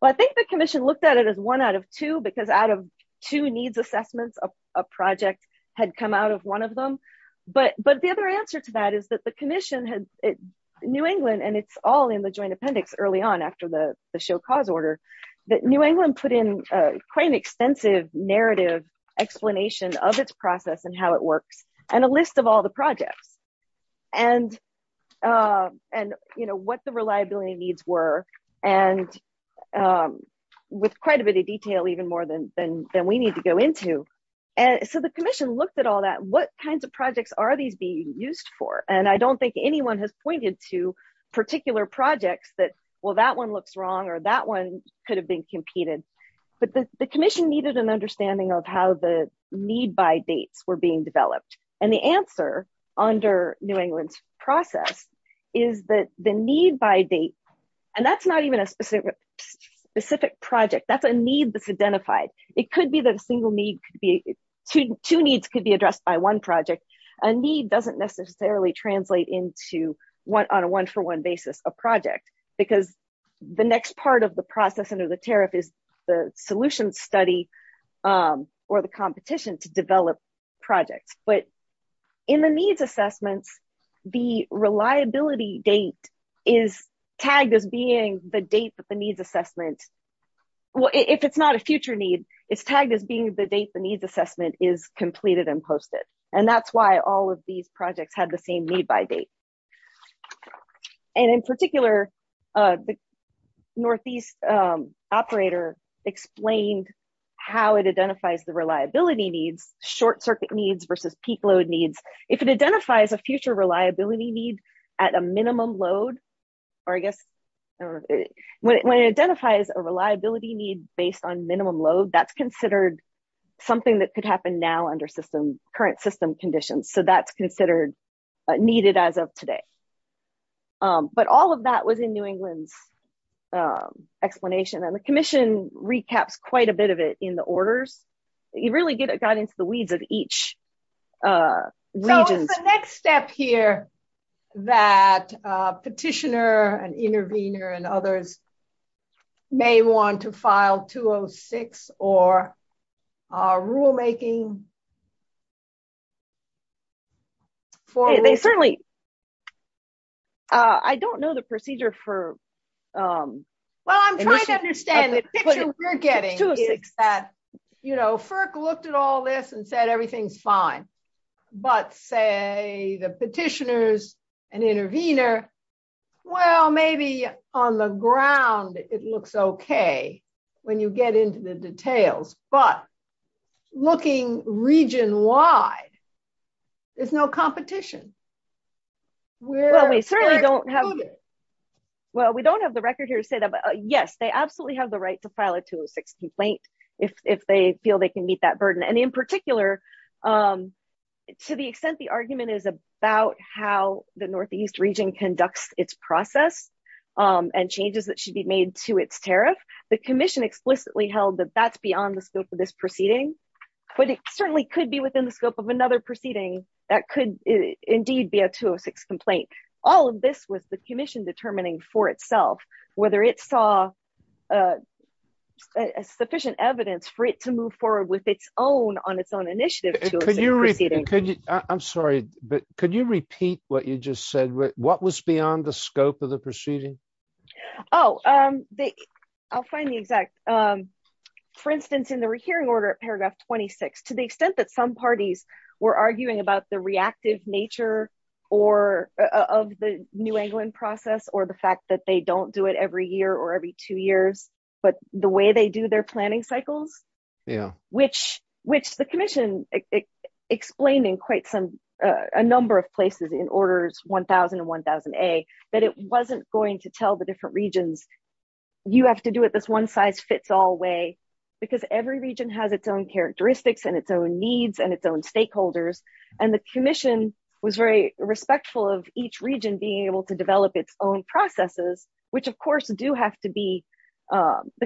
Well, I think the Commission looked at it as one out of two, because out of two needs assessments, a project had come out of one of them. But the other answer to that is that the Commission had New England and it's all in the joint appendix early on after the show cause order that New England put in quite an extensive narrative explanation of its process and how it works and a list of all the projects and what the reliability needs were. And with quite a bit of detail, even more than we need to go into. So the Commission looked at all that, what kinds of projects are these being used for? And I don't think anyone has pointed to particular projects that, well, that one looks wrong or that one could have been competed, but the Commission needed an understanding of how the need by dates were being developed. And the answer under New England's process is that the need by date, and that's not even a specific project. That's a need that's identified. It could be that a single need could be, two needs could be addressed by one project. A need doesn't necessarily translate into one on a one-for-one basis, a project, because the next part of the process under the tariff is the solution study or the competition to develop projects. But in the needs assessments, the reliability date is tagged as being the date that the needs assessment, well, if it's not a future need, it's tagged as being the date the needs assessment is completed and posted. And that's why all of these projects had the same need by date. And in particular, the Northeast operator explained how it identifies the reliability needs, short circuit needs versus peak load needs. If it identifies a future reliability need at a minimum load, or I guess when it identifies a reliability need based on minimum load, that's considered something that could happen now under current system conditions. So, that's considered needed as of today. But all of that was in New England's explanation and the Commission recaps quite a bit of it in the orders. You really get it got into the weeds of each region. So, the next step here that petitioner and intervener and others may want to file 206 or rulemaking. They certainly, I don't know the procedure for. Well, I'm trying to understand the picture we're getting is that, you know, FERC looked at all this and said, everything's fine. But say the petitioners and intervener, well, maybe on the ground, it looks okay when you get into the details, but looking region wide, there's no competition. Well, we certainly don't have. Well, we don't have the record here to say that. But yes, they absolutely have the right to file a 206 complaint if they feel they can meet that burden. And in particular, to the extent the argument is about how the Northeast region conducts its process and changes that should be made to its tariff, the Commission explicitly held that that's beyond the scope of this proceeding. But it certainly could be within the scope of another proceeding that could indeed be a 206 complaint. All of this was the Commission determining for itself, whether it saw sufficient evidence for it to move forward on its own initiative. I'm sorry, but could you repeat what you just said? What was beyond the scope of the proceeding? Oh, I'll find the exact. For instance, in the hearing order at paragraph 26, to the extent some parties were arguing about the reactive nature of the New England process or the fact that they don't do it every year or every two years, but the way they do their planning cycles, which the Commission explained in quite a number of places in orders 1000 and 1000A, that it wasn't going to tell the different regions, you have to do it this one size fits all because every region has its own characteristics and its own needs and its own stakeholders. And the Commission was very respectful of each region being able to develop its own processes, which of course, the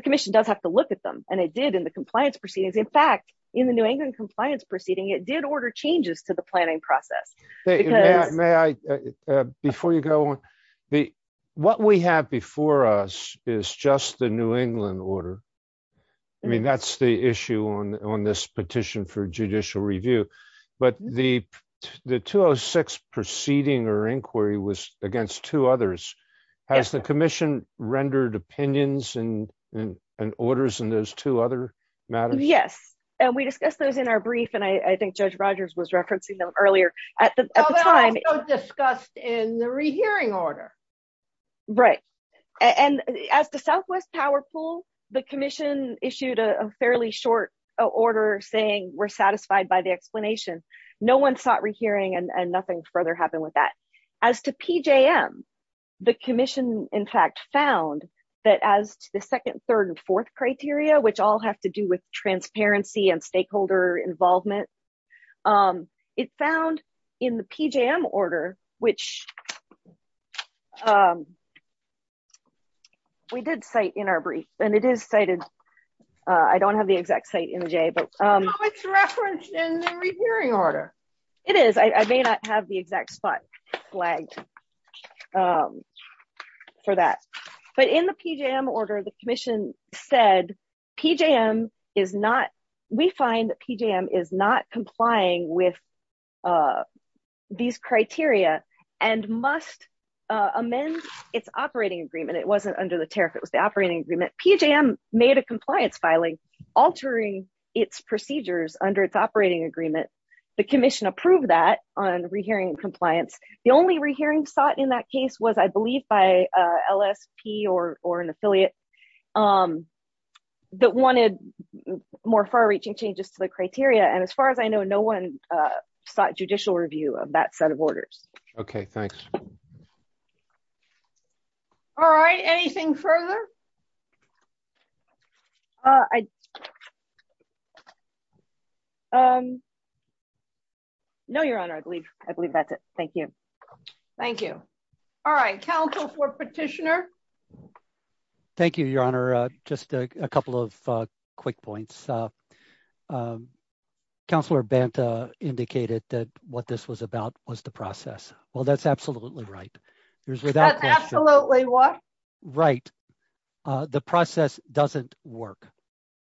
Commission does have to look at them. And it did in the compliance proceedings. In fact, in the New England compliance proceeding, it did order changes to the planning process. Before you go on, what we have before us is just the New England order. I mean, that's the issue on this petition for judicial review. But the 206 proceeding or inquiry was against two others. Has the Commission rendered opinions and orders in those two other matters? Yes. And we discussed those in our brief. And I think Judge Rogers was referencing them earlier at the time discussed in the rehearing order. Right. And as the Southwest Power Pool, the Commission issued a fairly short order saying we're satisfied by the explanation. No one sought rehearing and nothing further happened with that. As to PJM, the Commission in fact found that as the second, third and fourth criteria, which all have to do with transparency and stakeholder involvement. It found in the PJM order, which we did cite in our brief, and it is cited. I don't have the exact site in the J, but it's referenced in the rehearing order. It is. I may not have the exact spot flagged for that. But in the PJM order, the Commission said PJM is not, we find that PJM is not complying with these criteria and must amend its operating agreement. It wasn't under the tariff. It was the operating agreement. PJM made a compliance filing, altering its procedures under its operating agreement. The Commission approved that on rehearing compliance. The only rehearing sought in that case was I believe by LSP or an affiliate that wanted more far reaching changes to the criteria. And as far as I know, no one sought judicial review of that set of orders. Okay. Thanks. All right. Anything further? Uh, um, no, your honor. I believe I believe that's it. Thank you. Thank you. All right. Council for petitioner. Thank you, your honor. Just a couple of quick points. Um, counselor Banta indicated that what this was about was the process. Well, that's absolutely right. There's absolutely right. Uh, the process doesn't work.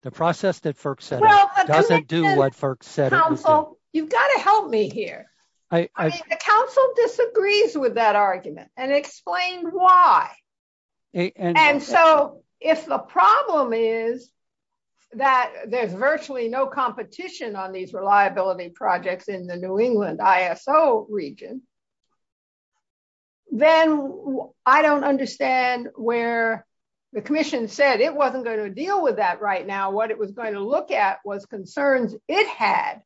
The process that FERC said doesn't do what FERC said. You've got to help me here. I mean, the council disagrees with that argument and explain why. And so if the problem is that there's virtually no competition on these reliability projects in the New England ISO region, then I don't understand where the Commission said it wasn't going to deal with that right now. What it was going to look at was concerns it had.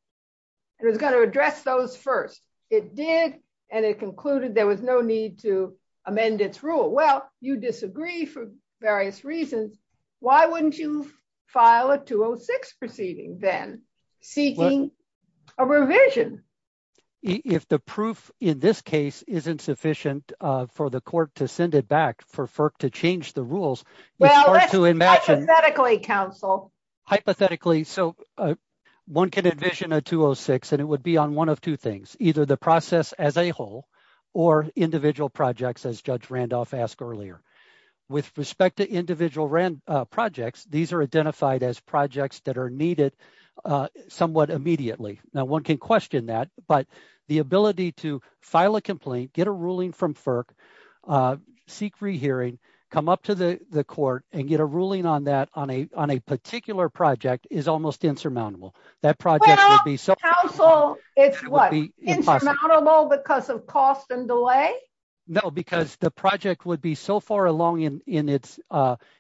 It was going to address those first. It did. And it concluded there was no need to amend its rule. Well, you disagree for various reasons. Why wouldn't you file a 206 proceeding then seeking a revision if the proof in this case isn't sufficient for the court to send it back for FERC to change the rules? Well, hypothetically, counsel, hypothetically, so one can envision a 206 and it would be on one of two things, either the process as a whole or individual projects, as Judge Randolph asked earlier. With respect to individual projects, these are identified as projects that are needed somewhat immediately. Now, one can question that, but the ability to file a complaint, get a ruling from FERC, seek re-hearing, come up to the court and get a ruling on that on a particular project is almost insurmountable. That project would be so- Well, counsel, it's what, insurmountable because of cost and delay? No, because the project would be so far along in its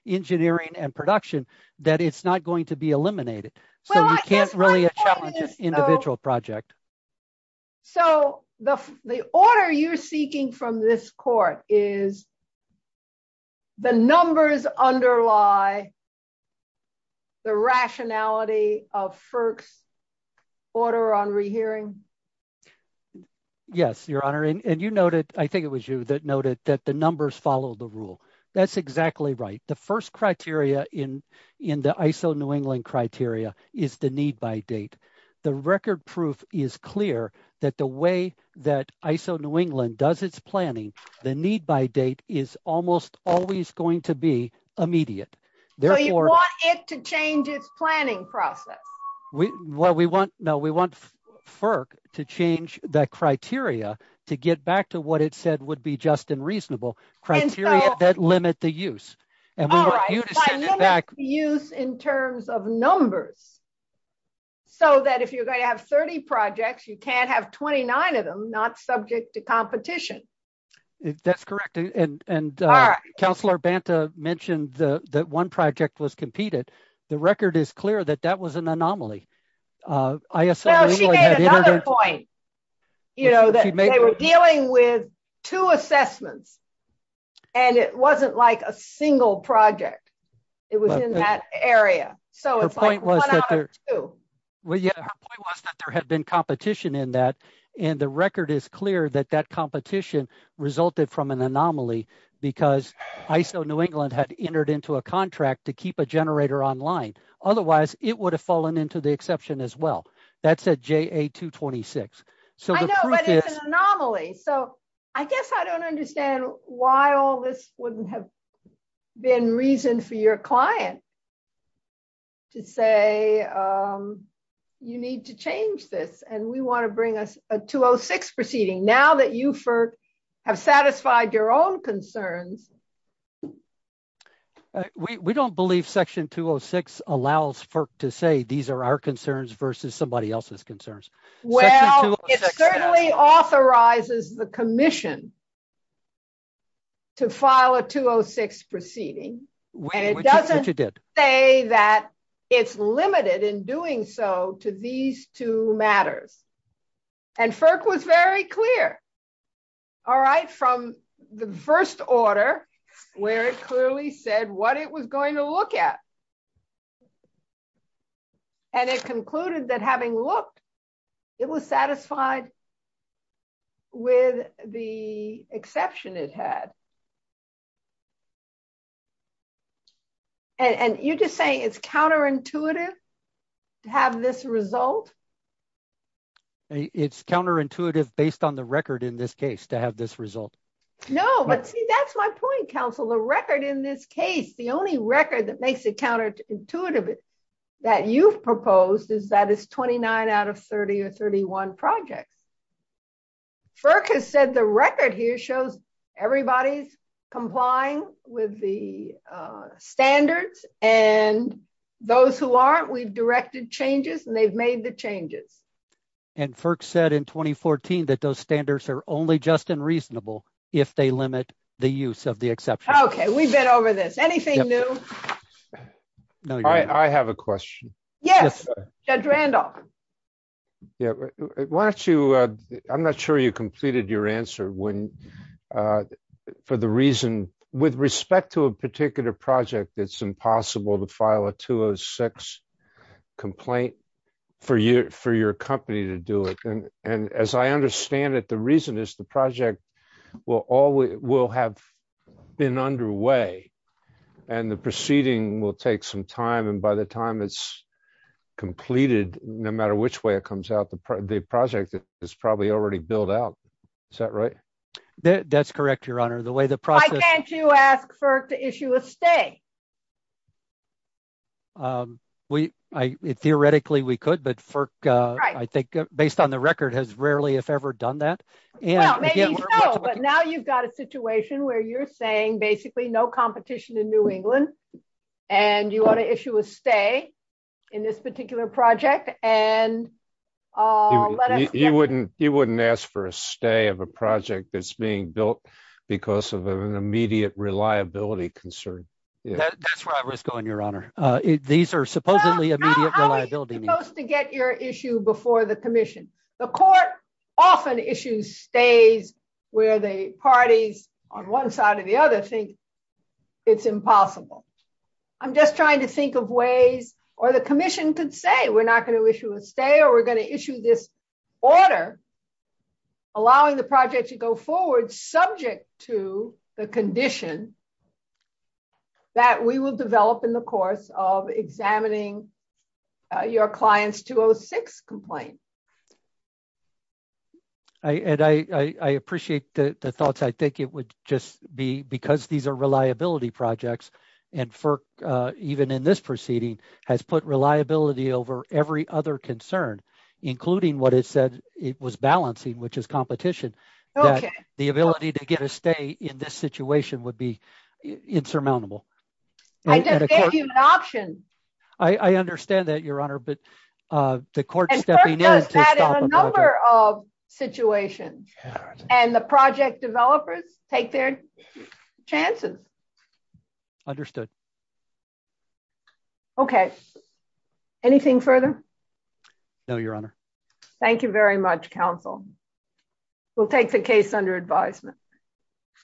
engineering and production that it's not going to be eliminated. So you can't really challenge an individual project. So the order you're seeking from this court is the numbers underlie the rationality of FERC's order on re-hearing? Yes, Your Honor. And you noted, I think it was you that noted that the numbers follow the rule. That's exactly right. The first criteria in the ISO New England criteria is the need by date. The record proof is clear that the way that ISO New England does its planning, the need by date is almost always going to be immediate. So you want it to change its planning process? Well, we want, no, we want FERC to change that criteria to get back to what it said would be just and reasonable criteria that limit the use. And we want you to send it back- By limit the use in terms of numbers. So that if you're going to have 30 projects, you can't have 29 of them not subject to competition. That's correct. And Councilor Banta mentioned that one project was competed. The record is clear that that was an anomaly. Now she made another point. You know, that they were dealing with two assessments and it wasn't like a single project. It was in that area. So it's like one out of two. Well, yeah, her point was that there had been competition in that. And the record is clear that that competition resulted from an anomaly because ISO New Otherwise, it would have fallen into the exception as well. That's a JA-226. So I know, but it's an anomaly. So I guess I don't understand why all this wouldn't have been reason for your client to say you need to change this. And we want to bring us a 206 proceeding now that you have satisfied your own concerns. We don't believe Section 206 allows FERC to say these are our concerns versus somebody else's concerns. Well, it certainly authorizes the commission to file a 206 proceeding. Which it did. And it doesn't say that it's limited in doing so to these two matters. And FERC was very clear. All right, from the first order, where it clearly said what it was going to look at. And it concluded that having looked, it was satisfied with the exception it had. And you're just saying it's counterintuitive to have this result? It's counterintuitive based on the record in this case to have this result. No, but see, that's my point, counsel. The record in this case, the only record that makes it counterintuitive that you've proposed is that it's 29 out of 30 or 31 projects. FERC has said the record here shows everybody's complying with the standards. And those who aren't, we've directed changes and they've made the changes. And FERC said in 2014 that those standards are only just unreasonable if they limit the use of the exception. Okay, we've been over this. Anything new? I have a question. Yes, Judge Randolph. Yeah, why don't you, I'm not sure you completed your answer for the reason, with respect to a particular project, it's impossible to file a 206 complaint for your company to do it. And as I understand it, the reason is the project will have been underway and the proceeding will take some time. And by the time it's completed, no matter which way it comes out, the project is probably already built out. Is that right? That's correct, Your Honor. The way the process- Why can't you ask FERC to issue a stay? Theoretically, we could, but FERC, I think based on the record, has rarely if ever done that. Well, maybe so, but now you've got a situation where you're saying basically no competition in New England and you want to issue a stay in this particular project and let us- You wouldn't ask for a stay of a project that's being built because of an immediate reliability concern. That's where I was going, Your Honor. These are supposedly immediate reliability- How are you supposed to get your issue before the commission? The court often issues stays where the parties on one side or the other think it's impossible. I'm just trying to think of ways, or the commission could say, we're not going to issue a stay or we're going to issue this because we think it's better allowing the project to go forward subject to the condition that we will develop in the course of examining your client's 206 complaint. I appreciate the thoughts. I think it would just be because these are reliability projects and FERC, even in this proceeding, has put reliability over every other concern, including what it said it was balancing, which is competition, that the ability to get a stay in this situation would be insurmountable. I just gave you an option. I understand that, Your Honor, but the court- And FERC does that in a number of situations and the project developers take their chances. Understood. Okay. Anything further? No, Your Honor. Thank you very much, counsel. We'll take the case under advisement.